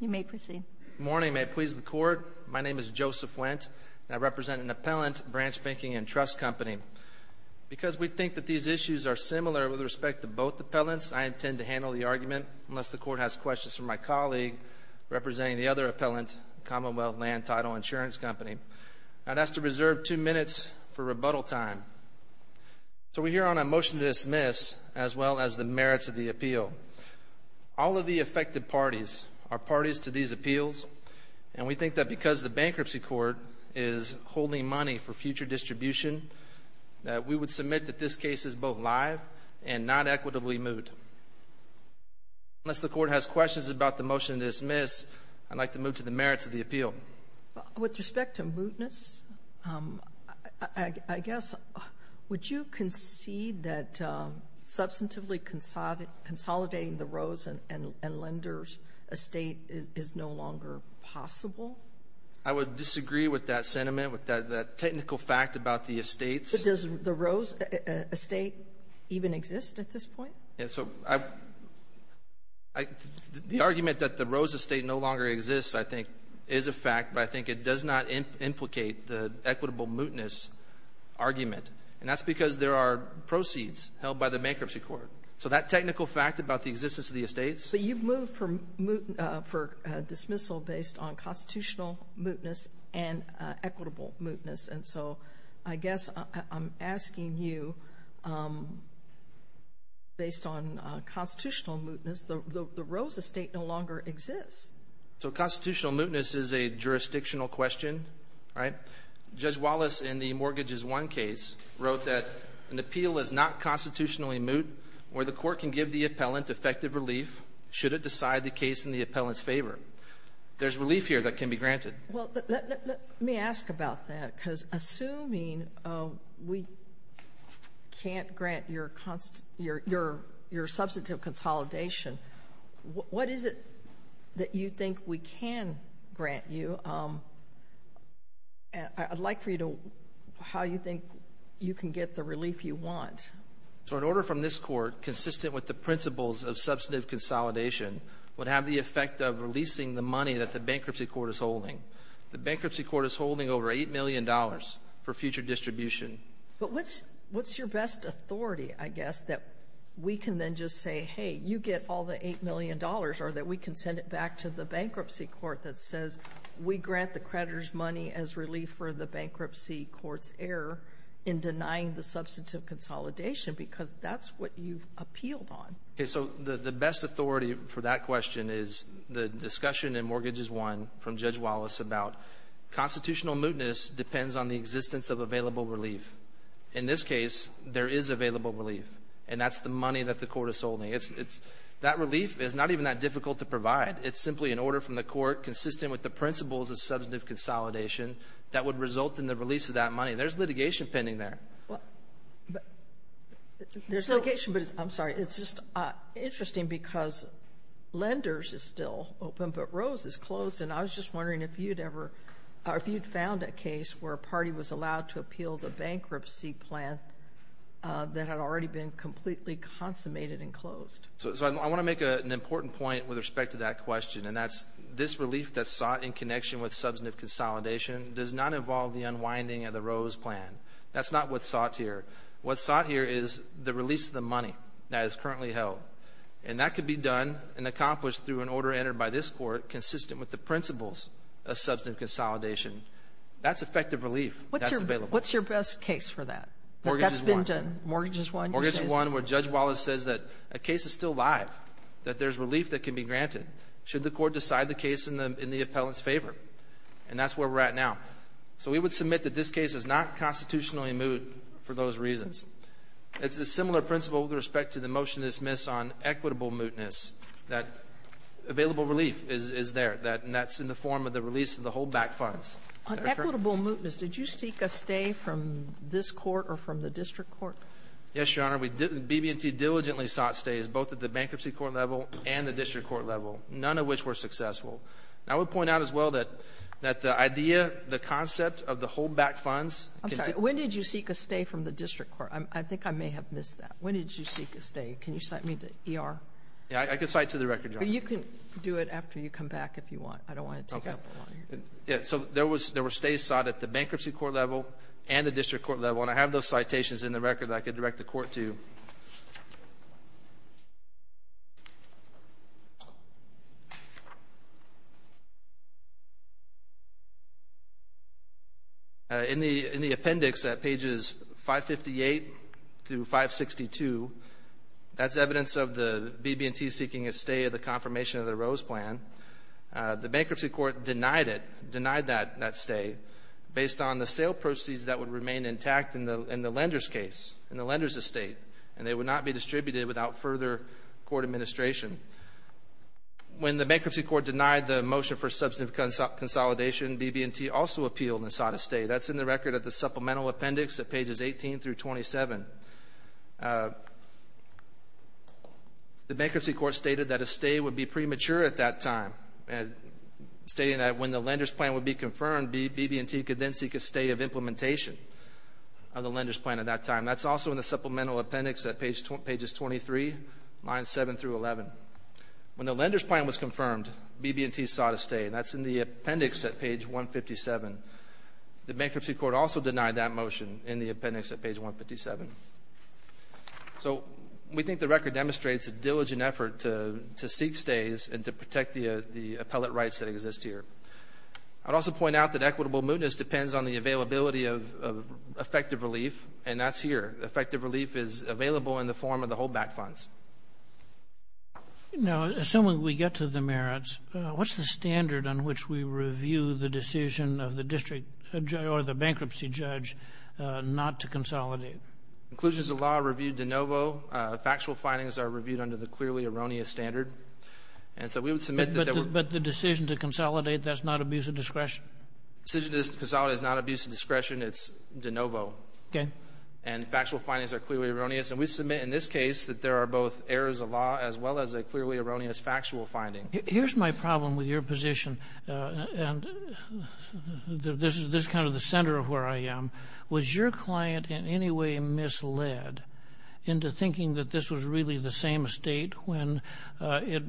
You may proceed. Good morning. May it please the Court, my name is Joseph Wendt and I represent an appellant, Branch Banking & Trust Company. Because we think that these issues are similar with respect to both appellants, I intend to handle the argument unless the Court has questions from my colleague representing the other appellant, Commonwealth Land Title Insurance Company. I'd ask to reserve two minutes for rebuttal time. So we're here on a motion to dismiss as well as the merits of the appeal. All of the affected parties are parties to these appeals and we think that because the Bankruptcy Court is holding money for future distribution, that we would submit that this case is both live and not equitably moot. Unless the Court has questions about the motion to dismiss, I'd like to move to the merits of the appeal. With respect to mootness, I guess, would you concede that substantively consolidating the Rose and Lenders estate is no longer possible? I would disagree with that sentiment, with that technical fact about the estates. Does the Rose estate even exist at this point? So the argument that the Rose estate no longer exists, I think, is a fact, but I think it does not implicate the equitable mootness argument, and that's because there are proceeds held by the Bankruptcy Court. So that technical fact about the existence of the estates? But you've moved for dismissal based on constitutional mootness and equitable mootness, and so I guess I'm asking you, based on constitutional mootness, the Rose estate no longer exists. So constitutional mootness is a jurisdictional question, right? Judge Wallace, in the Mortgages I case, wrote that an appeal is not constitutionally moot where the court can give the appellant effective relief should it decide the case in the appellant's favor. There's relief here that can be granted. Well, let me ask about that, because assuming we can't grant your substantive consolidation, what is it that you think we can grant you? I'd like for you to how you think you can get the relief you want. So an order from this Court consistent with the principles of substantive consolidation would have the effect of releasing the money that the Bankruptcy Court is holding. The Bankruptcy Court is holding over $8 million for future distribution. But what's your best authority, I guess, that we can then just say, hey, you get all the $8 million, or that we can send it back to the Bankruptcy Court that says, we grant the creditor's money as relief for the Bankruptcy Court's error in denying the substantive consolidation, because that's what you've appealed on. Okay. So the best authority for that question is the discussion in Mortgages I from Judge Wallace about constitutional mootness depends on the existence of available relief. In this case, there is available relief, and that's the money that the Court is holding. It's — that relief is not even that difficult to provide. It's simply an order from the Court consistent with the principles of substantive consolidation that would result in the release of that money. There's litigation pending there. Well, there's litigation, but it's — I'm sorry. It's just interesting, because Lenders is still open, but Rose is closed. And I was just wondering if you'd ever — or if you'd found a case where a party was allowed to appeal the bankruptcy plan that had already been completely consummated and closed. So I want to make an important point with respect to that question, and that's this relief that's sought in connection with substantive consolidation does not involve the unwinding of the Rose plan. That's not what's sought here. What's sought here is the release of the money that is currently held. And that could be done and accomplished through an order entered by this Court consistent with the principles of substantive consolidation. That's effective relief that's available. What's your best case for that? Mortgage is one. That's been done. Mortgage is one. Mortgage is one where Judge Wallace says that a case is still live, that there's relief that can be granted should the Court decide the case in the — in the appellant's favor. And that's where we're at now. So we would submit that this case is not constitutionally moot for those reasons. It's a similar principle with respect to the motion dismissed on equitable mootness, that available relief is there, and that's in the form of the release of the holdback funds. On equitable mootness, did you seek a stay from this Court or from the district court? Yes, Your Honor. We — BB&T diligently sought stays, both at the bankruptcy court level and the district court level, none of which were successful. I would point out as well that the idea, the concept of the holdback funds — I'm sorry. When did you seek a stay from the district court? I think I may have missed that. When did you seek a stay? Can you cite me to ER? Yeah. I can cite to the record, Your Honor. But you can do it after you come back if you want. I don't want to take up more of your time. Okay. Yeah. So there was — there were stays sought at the bankruptcy court level and the district court level. And I have those citations in the record that I could direct the Court to. In the — in the appendix at pages 558 through 562, that's evidence of the — of the BB&T seeking a stay of the confirmation of the Rose Plan. The bankruptcy court denied it, denied that — that stay based on the sale proceeds that would remain intact in the — in the lender's case, in the lender's estate. And they would not be distributed without further court administration. When the bankruptcy court denied the motion for substantive consolidation, BB&T also appealed and sought a stay. That's in the record of the supplemental appendix at pages 18 through 27. The bankruptcy court stated that a stay would be premature at that time, stating that when the lender's plan would be confirmed, BB&T could then seek a stay of implementation of the lender's plan at that time. That's also in the supplemental appendix at page — pages 23, lines 7 through 11. When the lender's plan was confirmed, BB&T sought a stay, and that's in the appendix at page 157. The bankruptcy court also denied that motion in the appendix at page 157. So we think the record demonstrates a diligent effort to — to seek stays and to protect the — the appellate rights that exist here. I'd also point out that equitable mootness depends on the availability of effective relief, and that's here. Effective relief is available in the form of the holdback funds. Now, assuming we get to the merits, what's the standard on which we review the decision of the district judge or the bankruptcy judge not to consolidate? Inclusions of law are reviewed de novo. Factual findings are reviewed under the clearly erroneous standard. And so we would submit that there were — But the decision to consolidate, that's not abuse of discretion? The decision to consolidate is not abuse of discretion. It's de novo. Okay. And factual findings are clearly erroneous. And we submit in this case that there are both errors of law as well as a clearly erroneous factual finding. Here's my problem with your position, and this is kind of the center of where I am. Was your client in any way misled into thinking that this was really the same estate when it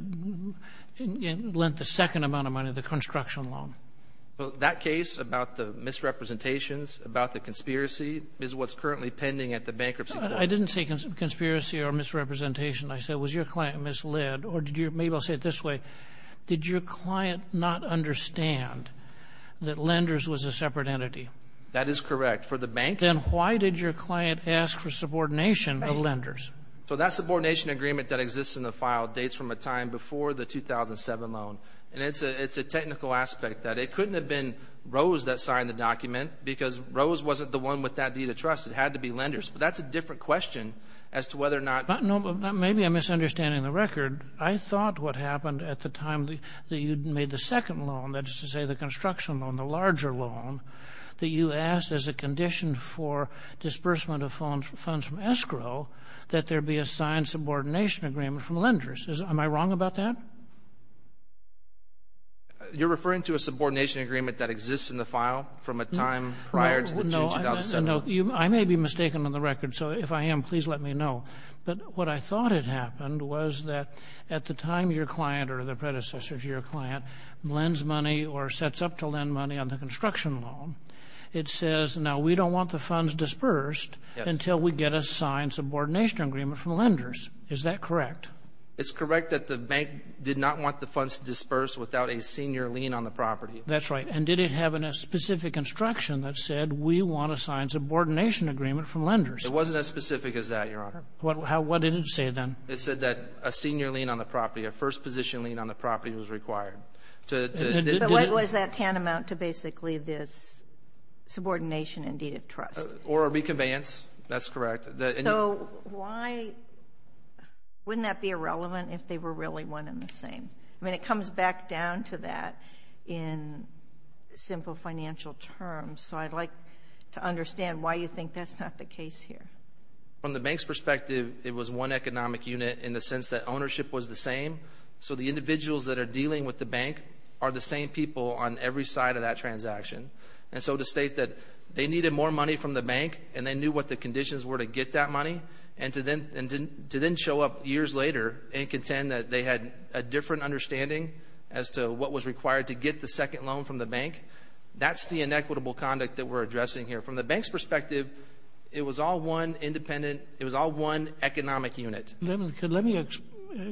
lent the second amount of money, the construction loan? Well, that case about the misrepresentations, about the conspiracy, is what's currently pending at the bankruptcy court. I didn't say conspiracy or misrepresentation. I said, was your client misled, or did your — maybe I'll say it this way. Did your client not understand that Lenders was a separate entity? That is correct. For the bank — Then why did your client ask for subordination of Lenders? So that subordination agreement that exists in the file dates from a time before the 2007 loan. And it's a technical aspect that it couldn't have been Rose that signed the document because Rose wasn't the one with that deed of trust. It had to be Lenders. But that's a different question as to whether or not — No, but maybe I'm misunderstanding the record. I thought what happened at the time that you made the second loan, that is to say the construction loan, the larger loan, that you asked as a condition for disbursement of funds from escrow that there be a signed subordination agreement from Lenders. Am I wrong about that? You're referring to a subordination agreement that exists in the file from a time prior to the June 2007 loan? No. I may be mistaken on the record. So if I am, please let me know. But what I thought had happened was that at the time your client or the predecessor to your client lends money or sets up to lend money on the construction loan, it says, now, we don't want the funds disbursed until we get a signed subordination agreement from Lenders. Is that correct? It's correct that the bank did not want the funds disbursed without a senior lien on the property. That's right. And did it have a specific instruction that said, we want a signed subordination agreement from Lenders? It wasn't as specific as that, Your Honor. What did it say then? It said that a senior lien on the property, a first-position lien on the property was required. But what was that tantamount to basically this subordination in deed of trust? Or a reconveyance. That's correct. So why wouldn't that be irrelevant if they were really one and the same? I mean, it comes back down to that in simple financial terms. So I'd like to understand why you think that's not the case here. From the bank's perspective, it was one economic unit in the sense that ownership was the same. So the individuals that are dealing with the bank are the same people on every side of that transaction. And so to state that they needed more money from the bank, and they knew what the conditions were to get that money, and to then show up years later and contend that they had a different understanding as to what was required to get the second loan from the bank, that's the inequitable conduct that we're addressing here. From the bank's perspective, it was all one independent, it was all one economic unit. Let me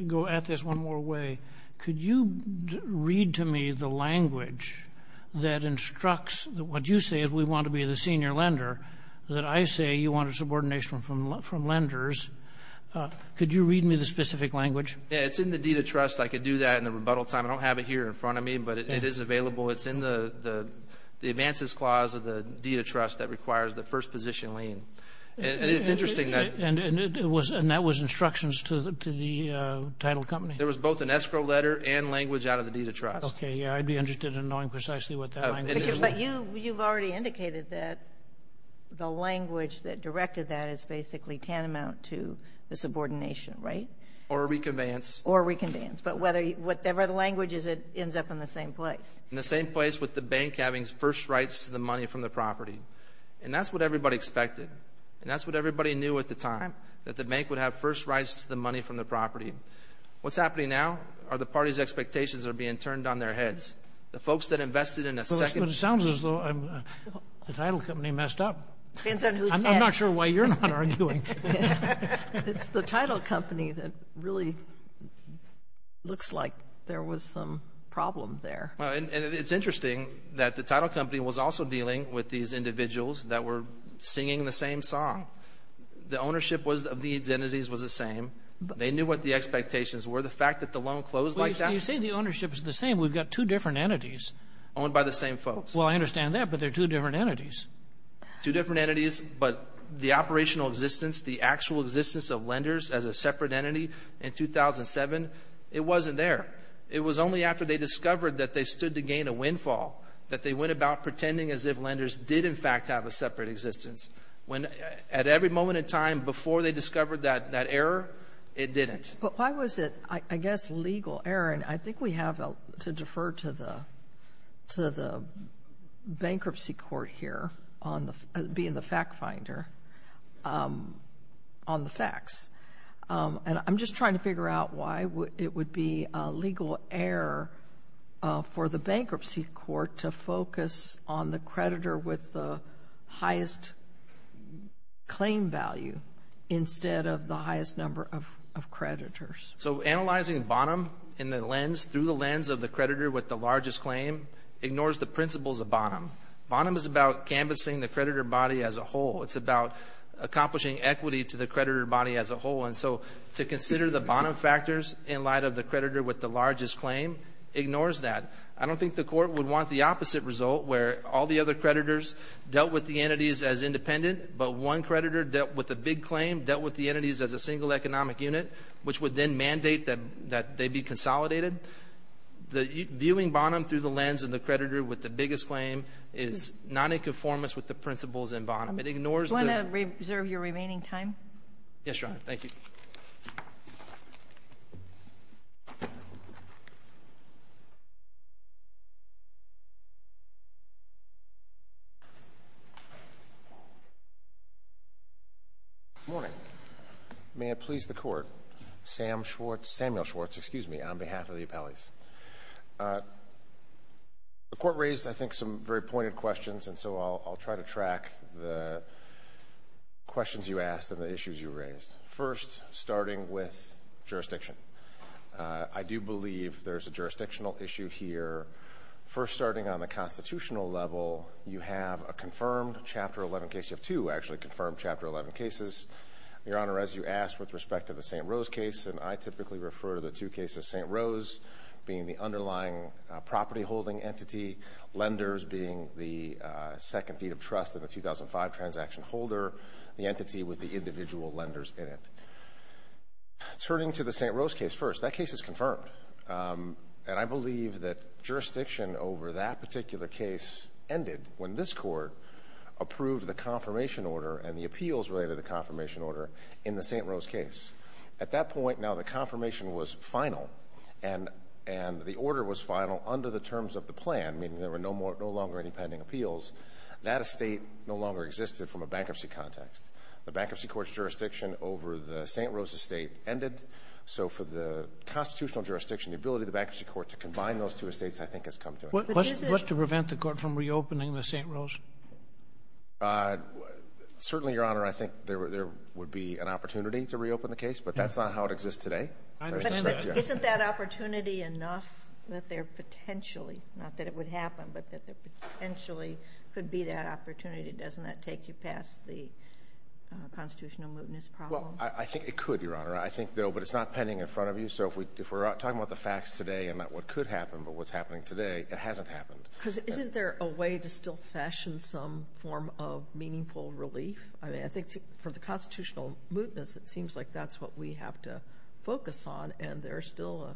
go at this one more way. Could you read to me the language that instructs, what you say is we want to be the senior lender, that I say you want a subordination from lenders. Could you read me the specific language? Yeah, it's in the deed of trust. I could do that in the rebuttal time. I don't have it here in front of me, but it is available. It's in the advances clause of the deed of trust that requires the first position lien. And it's interesting that — And it was — and that was instructions to the title company? There was both an escrow letter and language out of the deed of trust. Okay. Yeah. I'd be interested in knowing precisely what that language was. But you've already indicated that the language that directed that is basically tantamount to the subordination, right? Or reconveyance. Or reconveyance. But whether — whatever the language is, it ends up in the same place. In the same place with the bank having first rights to the money from the property. And that's what everybody expected. And that's what everybody knew at the time, that the bank would have first rights to the money from the property. What's happening now are the party's expectations are being turned on their heads. The folks that invested in a second — But it sounds as though the title company messed up. Depends on whose head. I'm not sure why you're not arguing. It's the title company that really looks like there was some problem there. And it's interesting that the title company was also dealing with these individuals that were singing the same song. The ownership of these entities was the same. They knew what the expectations were. The fact that the loan closed like that — You say the ownership is the same. We've got two different entities. Owned by the same folks. Well, I understand that. But they're two different entities. Two different entities. But the operational existence, the actual existence of lenders as a separate entity in 2007, it wasn't there. It was only after they discovered that they stood to gain a windfall that they went about pretending as if lenders did, in fact, have a separate existence. When — at every moment in time before they discovered that error, it didn't. But why was it, I guess, legal error? And I think we have to defer to the bankruptcy court here on the — being the fact-finder on the facts. And I'm just trying to figure out why it would be a legal error for the bankruptcy court to focus on the creditor with the highest claim value instead of the highest number of creditors. So analyzing Bonham in the lens — through the lens of the creditor with the largest claim ignores the principles of Bonham. Bonham is about canvassing the creditor body as a whole. It's about accomplishing equity to the creditor body as a whole. And so to consider the Bonham factors in light of the creditor with the largest claim ignores that. I don't think the court would want the opposite result where all the other creditors dealt with the entities as independent, but one creditor dealt with the big claim, dealt with the entities as a single economic unit, which would then mandate that they be consolidated. The viewing Bonham through the lens of the creditor with the biggest claim is not in conformance with the principles in Bonham. It ignores the — Do you want to reserve your remaining time? Yes, Your Honor. Thank you. Good morning. May it please the Court. Sam Schwartz — Samuel Schwartz, excuse me, on behalf of the appellees. The Court raised, I think, some very pointed questions, and so I'll try to track the questions you asked and the issues you raised. First, starting with jurisdiction. I do believe there's a jurisdictional issue here. First starting on the constitutional level, you have a confirmed Chapter 11 case. You have two actually confirmed Chapter 11 cases. Your Honor, as you asked with respect to the St. Rose case, and I typically refer to the two cases, St. Rose being the underlying property-holding entity, lenders being the second deed of trust in the 2005 transaction holder, the entity with the individual lenders in it. Turning to the St. Rose case first, that case is confirmed. And I believe that jurisdiction over that particular case ended when this Court approved the confirmation order and the appeals related to the confirmation order in the St. Rose case. At that point, now, the confirmation was final, and the order was final under the terms of the plan, meaning there were no more — no longer any pending appeals. That estate no longer existed from a bankruptcy context. The Bankruptcy Court's jurisdiction over the St. Rose estate ended. So for the constitutional jurisdiction, the ability of the Bankruptcy Court to combine those two estates, I think, has come to an end. What's to prevent the Court from reopening the St. Rose? Certainly, Your Honor, I think there would be an opportunity to reopen the case. But that's not how it exists today. I suspect, yes. But isn't that opportunity enough that there potentially — not that it would happen, but that there potentially could be that opportunity? Doesn't that take you past the constitutional mootness problem? Well, I think it could, Your Honor. I think, though, but it's not pending in front of you. So if we're talking about the facts today and not what could happen but what's happening today, it hasn't happened. Because isn't there a way to still fashion some form of meaningful relief? I mean, I think for the constitutional mootness, it seems like that's what we have to focus on, and there's still a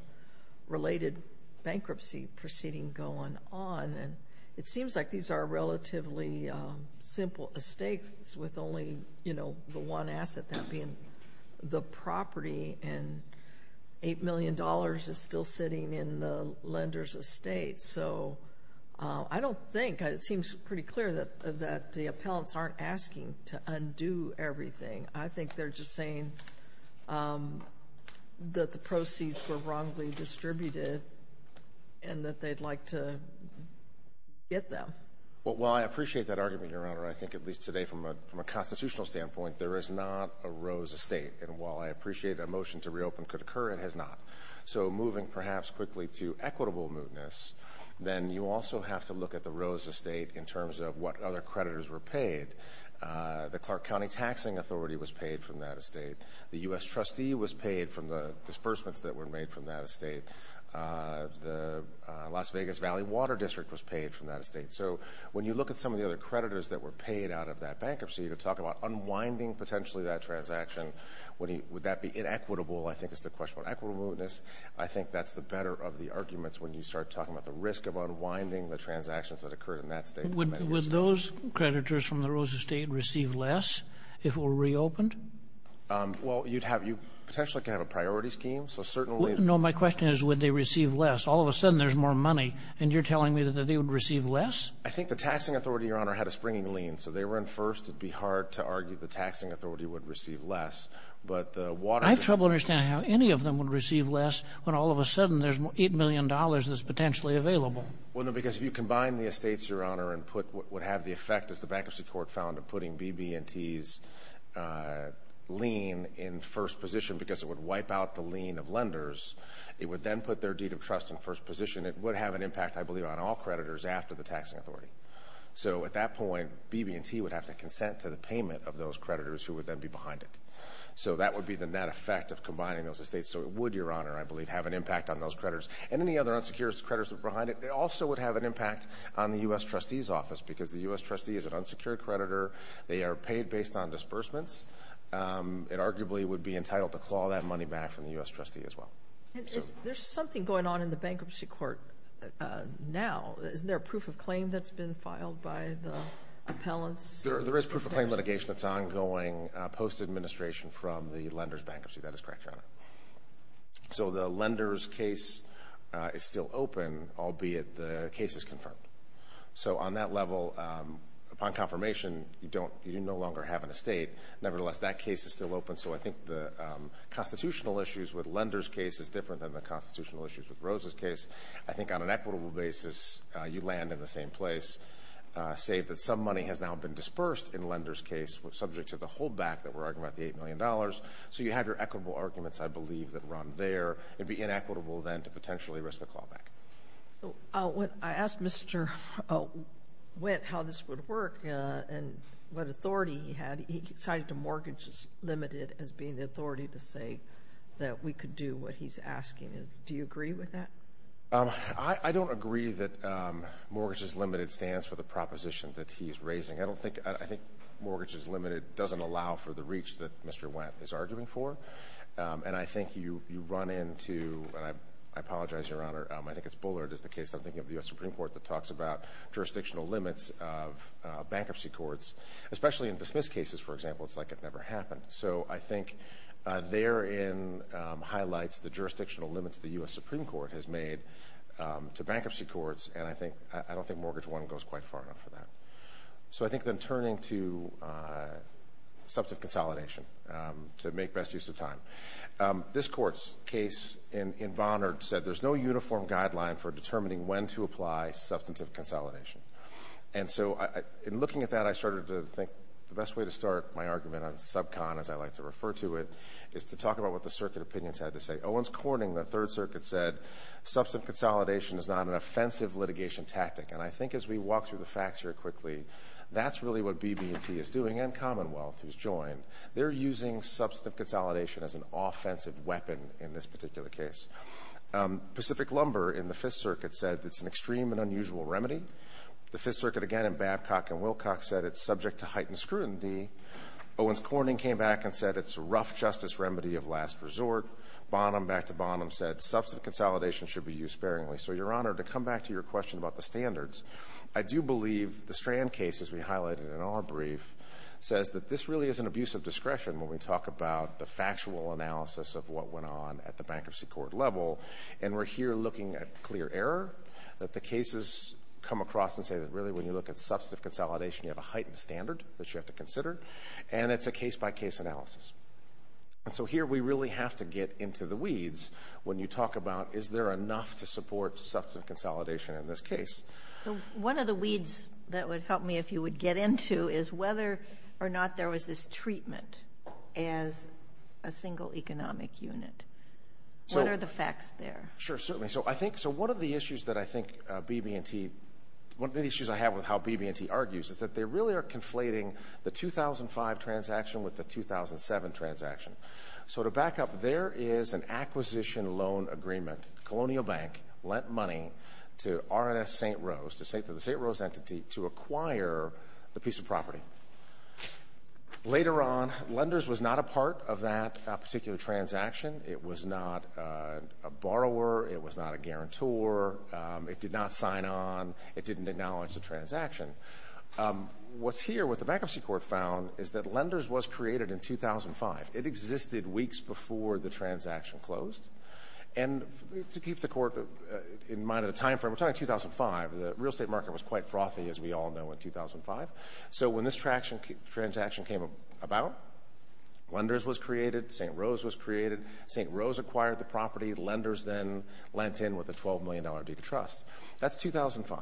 related bankruptcy proceeding going on. And it seems like these are relatively simple estates with only, you know, the one asset, that being the property, and $8 million is still sitting in the lender's estate. So I don't think — it seems pretty clear that the appellants aren't asking to undo everything. I think they're just saying that the proceeds were wrongly distributed and that they'd like to get them. Well, I appreciate that argument, Your Honor. I think at least today from a constitutional standpoint, there is not a Rose estate. And while I appreciate a motion to reopen could occur, it has not. So moving perhaps quickly to equitable mootness, then you also have to look at the Rose estate in terms of what other creditors were paid. The Clark County Taxing Authority was paid from that estate. The U.S. trustee was paid from the disbursements that were made from that estate. The Las Vegas Valley Water District was paid from that estate. So when you look at some of the other creditors that were paid out of that bankruptcy, you could talk about unwinding potentially that transaction. Would that be inequitable? I think it's the question of equitable mootness. I think that's the better of the arguments when you start talking about the risk of unwinding the transactions that occurred in that state. Would those creditors from the Rose estate receive less if it were reopened? Well, you'd have — you potentially could have a priority scheme. So certainly — No, my question is, would they receive less? All of a sudden there's more money, and you're telling me that they would receive less? I think the taxing authority, Your Honor, had a springing lien. So they were in first. It'd be hard to argue the taxing authority would receive less. But the water — I have trouble understanding how any of them would receive less when all of a sudden there's $8 million that's potentially available. Well, no, because if you combine the estates, Your Honor, and put what would have the effect, as the Bankruptcy Court found, of putting BB&T's lien in first position because it would wipe out the lien of lenders, it would then put their deed of trust in first position. It would have an impact, I believe, on all creditors after the taxing authority. So at that point, BB&T would have to consent to the payment of those creditors who would then be behind it. So that would be the net effect of combining those estates. So it would, Your Honor, I believe, have an impact on those creditors. And any other unsecured creditors behind it, it also would have an impact on the U.S. trustee's office because the U.S. trustee is an unsecured creditor. They are paid based on disbursements. It arguably would be entitled to claw that money back from the U.S. trustee as well. There's something going on in the Bankruptcy Court now. Isn't there a proof of claim that's been filed by the appellants? There is proof of claim litigation. It's ongoing post-administration from the lender's bankruptcy. That is correct, Your Honor. So the lender's case is still open, albeit the case is confirmed. So on that level, upon confirmation, you no longer have an estate. Nevertheless, that case is still open. So I think the constitutional issues with lender's case is different than the constitutional issues with Rose's case. I think on an equitable basis, you land in the same place, save that some money has now been dispersed in lender's case, subject to the holdback that we're arguing about, the $8 million. So you have your equitable arguments, I believe, that run there. It'd be inequitable then to potentially risk a clawback. I asked Mr. Witt how this would work and what authority he had. He cited to mortgages limited as being the authority to say that we could do what he's asking. Do you agree with that? I don't agree that mortgages limited stands for the proposition that he's raising. I think mortgages limited doesn't allow for the reach that Mr. Wendt is arguing for, and I think you run into, and I apologize, Your Honor, I think it's Bullard is the case I'm thinking of, the U.S. Supreme Court, that talks about jurisdictional limits of bankruptcy courts, especially in dismissed cases, for example. It's like it never happened. So I think therein highlights the jurisdictional limits the U.S. Supreme Court has made to bankruptcy courts, and I don't think mortgage one goes quite far enough for that. So I think then turning to substantive consolidation to make best use of time. This Court's case in Bonnard said there's no uniform guideline for determining when to apply substantive consolidation. And so in looking at that, I started to think the best way to start my argument on sub-con, as I like to refer to it, is to talk about what the circuit opinions had to say. Owens Corning, the Third Circuit, said substantive consolidation is not an offensive litigation tactic. And I think as we walk through the facts here quickly, that's really what BB&T is doing, and Commonwealth, who's joined. They're using substantive consolidation as an offensive weapon in this particular case. Pacific Lumber in the Fifth Circuit said it's an extreme and unusual remedy. The Fifth Circuit, again, in Babcock and Wilcox said it's subject to heightened scrutiny. Owens Corning came back and said it's a rough justice remedy of last resort. Bonham, back to Bonham, said substantive consolidation should be used sparingly. So, Your Honor, to come back to your question about the standards, I do believe the Strand case, as we highlighted in our brief, says that this really is an abuse of discretion when we talk about the factual analysis of what went on at the bankruptcy court level. And we're here looking at clear error, that the cases come across and say that really when you look at substantive consolidation, you have a heightened standard that you have to consider. And it's a case-by-case analysis. And so here we really have to get into the weeds when you talk about is there enough to support substantive consolidation in this case? One of the weeds that would help me, if you would get into, is whether or not there was this treatment as a single economic unit. What are the facts there? Sure, certainly. So I think one of the issues that I think BB&T, one of the issues I have with how BB&T argues is that they really are conflating the 2005 transaction with the 2007 transaction. So to back up, there is an acquisition loan agreement. Colonial Bank lent money to RNS St. Rose, to the St. Rose entity, to acquire the piece of property. Later on, lenders was not a part of that particular transaction. It was not a borrower. It was not a guarantor. It did not sign on. It didn't acknowledge the transaction. What's here, what the bankruptcy court found is that lenders was created in 2005. It existed weeks before the transaction closed. And to keep the court in mind of the timeframe, we're talking 2005. The real estate market was quite frothy, as we all know, in 2005. So when this transaction came about, lenders was created, St. Rose was created. St. Rose acquired the property. Lenders then lent in with a $12 million due to trust. That's 2005.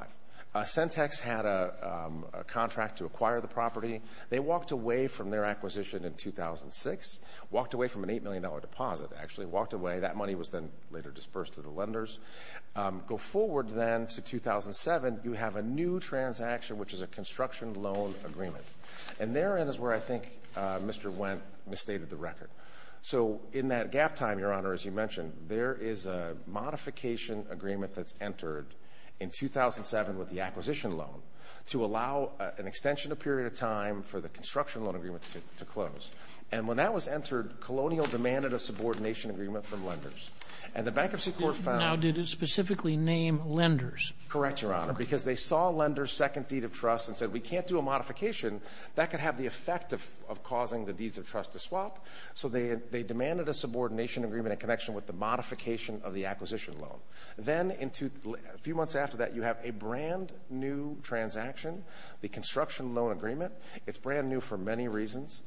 Centex had a contract to acquire the property. They walked away from their acquisition in 2006. Walked away from an $8 million deposit, actually. Walked away. That money was then later dispersed to the lenders. Go forward then to 2007, you have a new transaction, which is a construction loan agreement. And therein is where I think Mr. Wendt misstated the record. So in that gap time, Your Honor, as you mentioned, there is a modification agreement that's for the construction loan agreement to close. And when that was entered, Colonial demanded a subordination agreement from lenders. And the Bankruptcy Court found — Now, did it specifically name lenders? Correct, Your Honor. Because they saw lenders' second deed of trust and said, we can't do a modification. That could have the effect of causing the deeds of trust to swap. So they demanded a subordination agreement in connection with the modification of the acquisition loan. Then a few months after that, you have a brand new transaction, the construction loan agreement. It's brand new for many reasons.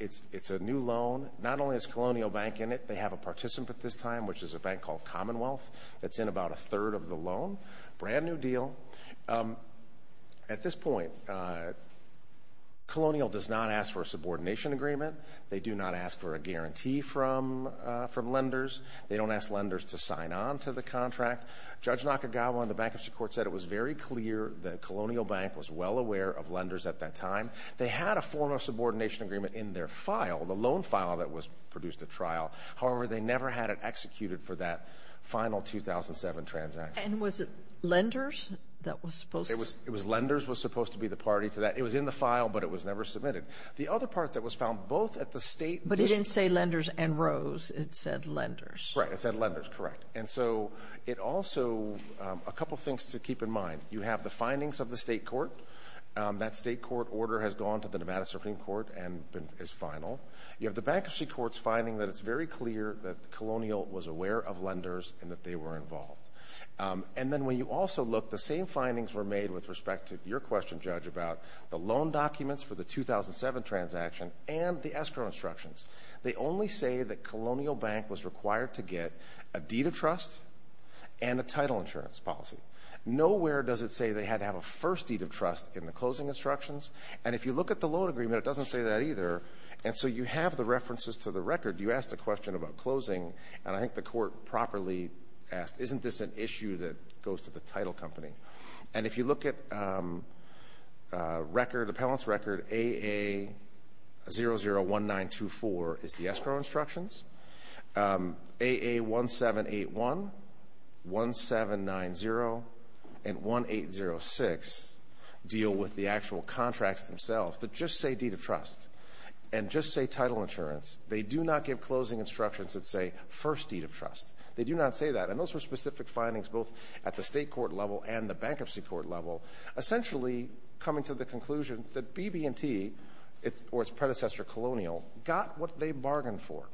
It's a new loan. Not only is Colonial Bank in it, they have a participant at this time, which is a bank called Commonwealth, that's in about a third of the loan. Brand new deal. At this point, Colonial does not ask for a subordination agreement. They do not ask for a guarantee from lenders. They don't ask lenders to sign on to the contract. Judge Nakagawa in the Bankruptcy Court said it was very clear that Colonial Bank was well aware of lenders at that time. They had a form of subordination agreement in their file, the loan file that was produced at trial. However, they never had it executed for that final 2007 transaction. And was it lenders that was supposed to — It was — it was lenders was supposed to be the party to that. It was in the file, but it was never submitted. The other part that was found both at the State — But it didn't say lenders and rows. It said lenders. Right. It said lenders. Correct. And so it also — a couple things to keep in mind. You have the findings of the state court. That state court order has gone to the Nevada Supreme Court and is final. You have the Bankruptcy Court's finding that it's very clear that Colonial was aware of lenders and that they were involved. And then when you also look, the same findings were made with respect to your question, Judge, about the loan documents for the 2007 transaction and the escrow instructions. They only say that Colonial Bank was required to get a deed of trust and a title insurance policy. Nowhere does it say they had to have a first deed of trust in the closing instructions. And if you look at the loan agreement, it doesn't say that either. And so you have the references to the record. You asked a question about closing, and I think the court properly asked, isn't this an issue that goes to the title company? And if you look at record, appellant's record, AA001924 is the escrow instructions. AA1781, 1790, and 1806 deal with the actual contracts themselves that just say deed of trust and just say title insurance. They do not give closing instructions that say first deed of trust. They do not say that. And those were specific findings both at the state court level and the bankruptcy court level, essentially coming to the conclusion that BB&T or its predecessor, Colonial, got what they bargained for.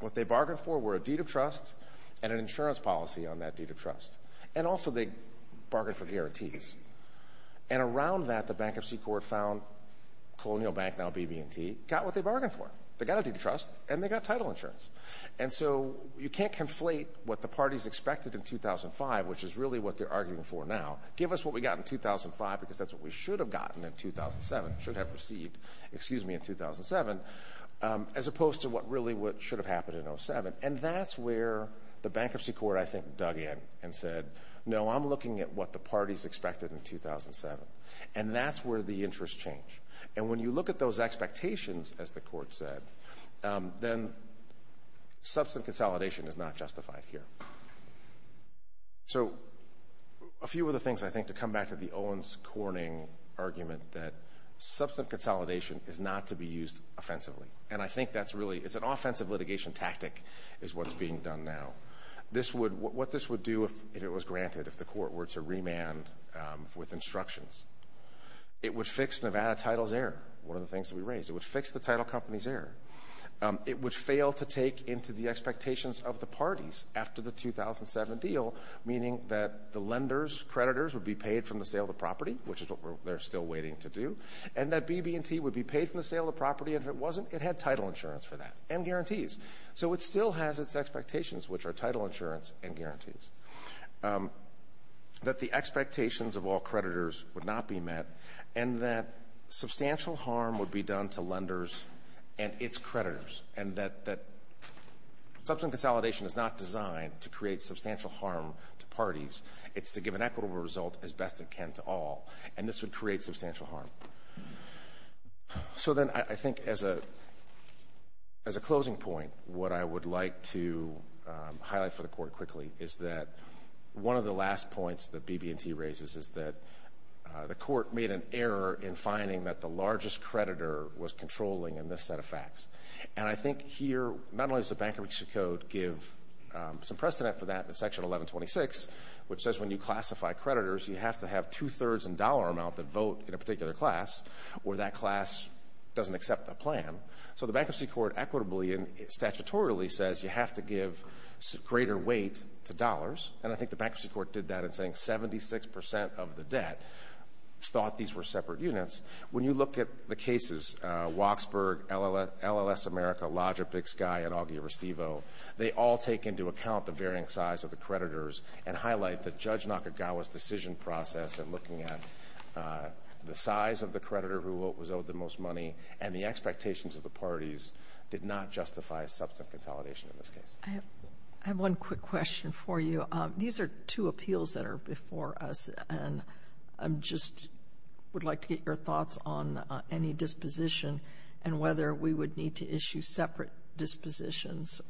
What they bargained for were a deed of trust and an insurance policy on that deed of trust. And also they bargained for guarantees. And around that, the bankruptcy court found Colonial Bank, now BB&T, got what they bargained for. They got a deed of trust, and they got title insurance. And so you can't conflate what the parties expected in 2005, which is really what they're arguing for now. Give us what we got in 2005 because that's what we should have gotten in 2007, should have received, excuse me, in 2007, as opposed to what really what should have happened in 07. And that's where the bankruptcy court, I think, dug in and said, no, I'm looking at what the parties expected in 2007. And that's where the interests change. And when you look at those expectations, as the court said, then substantive consolidation is not justified here. So a few of the things, I think, to come back to the Owens-Corning argument that substantive consolidation is not to be used offensively. And I think that's really, it's an offensive litigation tactic is what's being done now. This would, what this would do if it was granted, if the court were to remand with instructions. It would fix Nevada Title's error, one of the things that we raised. It would fix the title company's error. It would fail to take into the expectations of the parties after the 2007 deal, meaning that the lenders, creditors, would be paid from the sale of the property, which is what they're still waiting to do. And that BB&T would be paid from the sale of the property. And if it wasn't, it had title insurance for that and guarantees. That the expectations of all creditors would not be met and that substantial harm would be done to lenders and its creditors. And that substantive consolidation is not designed to create substantial harm to parties. It's to give an equitable result as best it can to all. And this would create substantial harm. So then I think as a closing point, what I would like to highlight for the court quickly is that one of the last points that BB&T raises is that the court made an error in finding that the largest creditor was controlling in this set of facts. And I think here, not only does the Bankruptcy Code give some precedent for that in Section 1126, which says when you classify creditors, you have to have two-thirds in dollar amount that vote in a particular class, or that class doesn't accept the plan. So the Bankruptcy Court equitably and statutorily says you have to give greater weight to dollars. And I think the Bankruptcy Court did that in saying 76% of the debt thought these were separate units. When you look at the cases, Waksberg, LLS America, Lodger, Big Sky, and Augie Restivo, they all take into account the varying size of the creditors and highlight that Judge Nakagawa's decision process in looking at the size of the creditor who was owed the most money and the expectations of the parties did not justify substantive consolidation in this case. I have one quick question for you. These are two appeals that are before us, and I just would like to get your thoughts on any disposition and whether we would need to issue separate dispositions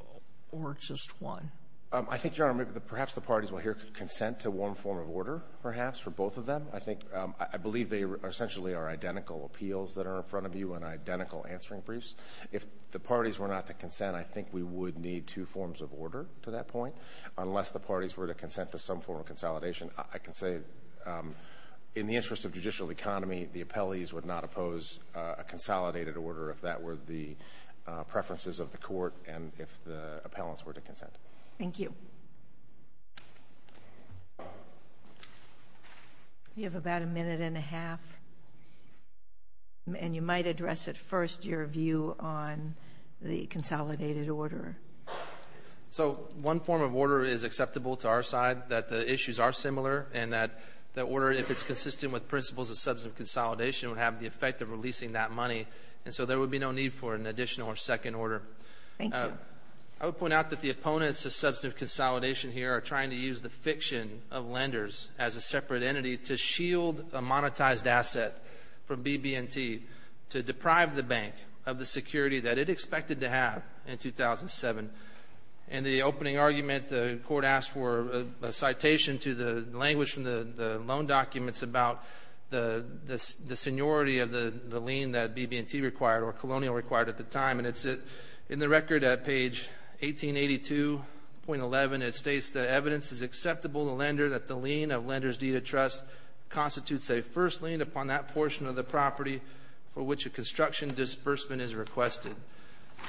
or just one. I think, Your Honor, perhaps the parties will here consent to one form of order, perhaps, for both of them. I think I believe they essentially are identical appeals that are in front of you and identical answering briefs. If the parties were not to consent, I think we would need two forms of order to that point. Unless the parties were to consent to some form of consolidation, I can say in the interest of judicial economy, the appellees would not oppose a consolidated order if that were the preferences of the court and if the appellants were to consent. Thank you. You have about a minute and a half, and you might address at first your view on the consolidated order. So one form of order is acceptable to our side, that the issues are similar, and that order, if it's consistent with principles of substantive consolidation, would have the effect of releasing that money, and so there would be no need for an additional or second order. Thank you. I would point out that the opponents of substantive consolidation here are trying to use the fiction of lenders as a separate entity to shield a monetized asset from BB&T to deprive the bank of the security that it expected to have in 2007. In the opening argument, the court asked for a citation to the language from the loan documents about the seniority of the lien that BB&T required or Colonial required at the time, and it's in the record at page 1882.11. It states that evidence is acceptable to lender that the lien of lender's deed of trust constitutes a first lien upon that portion of the property for which a construction disbursement is requested.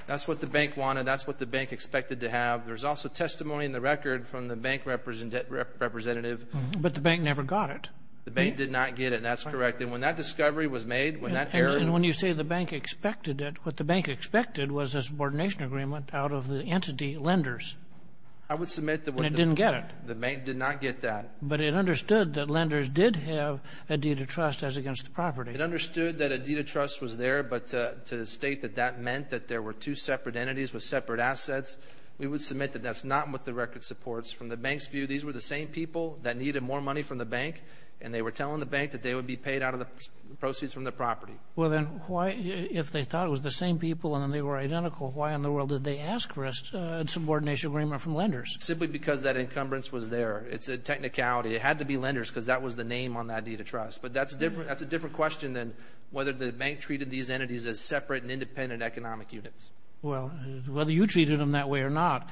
That's what the bank wanted. That's what the bank expected to have. There's also testimony in the record from the bank representative. But the bank never got it. The bank did not get it. That's correct. And when that discovery was made, when that error – And when you say the bank expected it, what the bank expected was a subordination agreement out of the entity lenders. I would submit that – And it didn't get it. The bank did not get that. But it understood that lenders did have a deed of trust as against the property. It understood that a deed of trust was there, but to state that that meant that there were two separate entities with separate assets, we would submit that that's not what the record supports. From the bank's view, these were the same people that needed more money from the bank, and they were telling the bank that they would be paid out of the proceeds from the property. Well, then why – if they thought it was the same people and they were identical, why in the world did they ask for a subordination agreement from lenders? Simply because that encumbrance was there. It's a technicality. It had to be lenders because that was the name on that deed of trust. But that's a different question than whether the bank treated these entities as separate and independent economic units. Well, whether you treated them that way or not,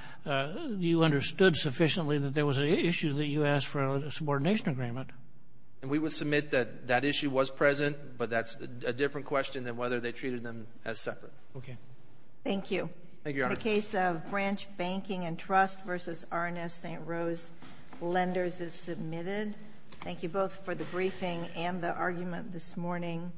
you understood sufficiently that there was an issue that you asked for a subordination agreement. And we would submit that that issue was present, but that's a different question than whether they treated them as separate. Okay. Thank you. Thank you, Your Honor. The case of Branch Banking and Trust v. R&S St. Rose Lenders is submitted. Thank you both for the briefing and the argument this morning.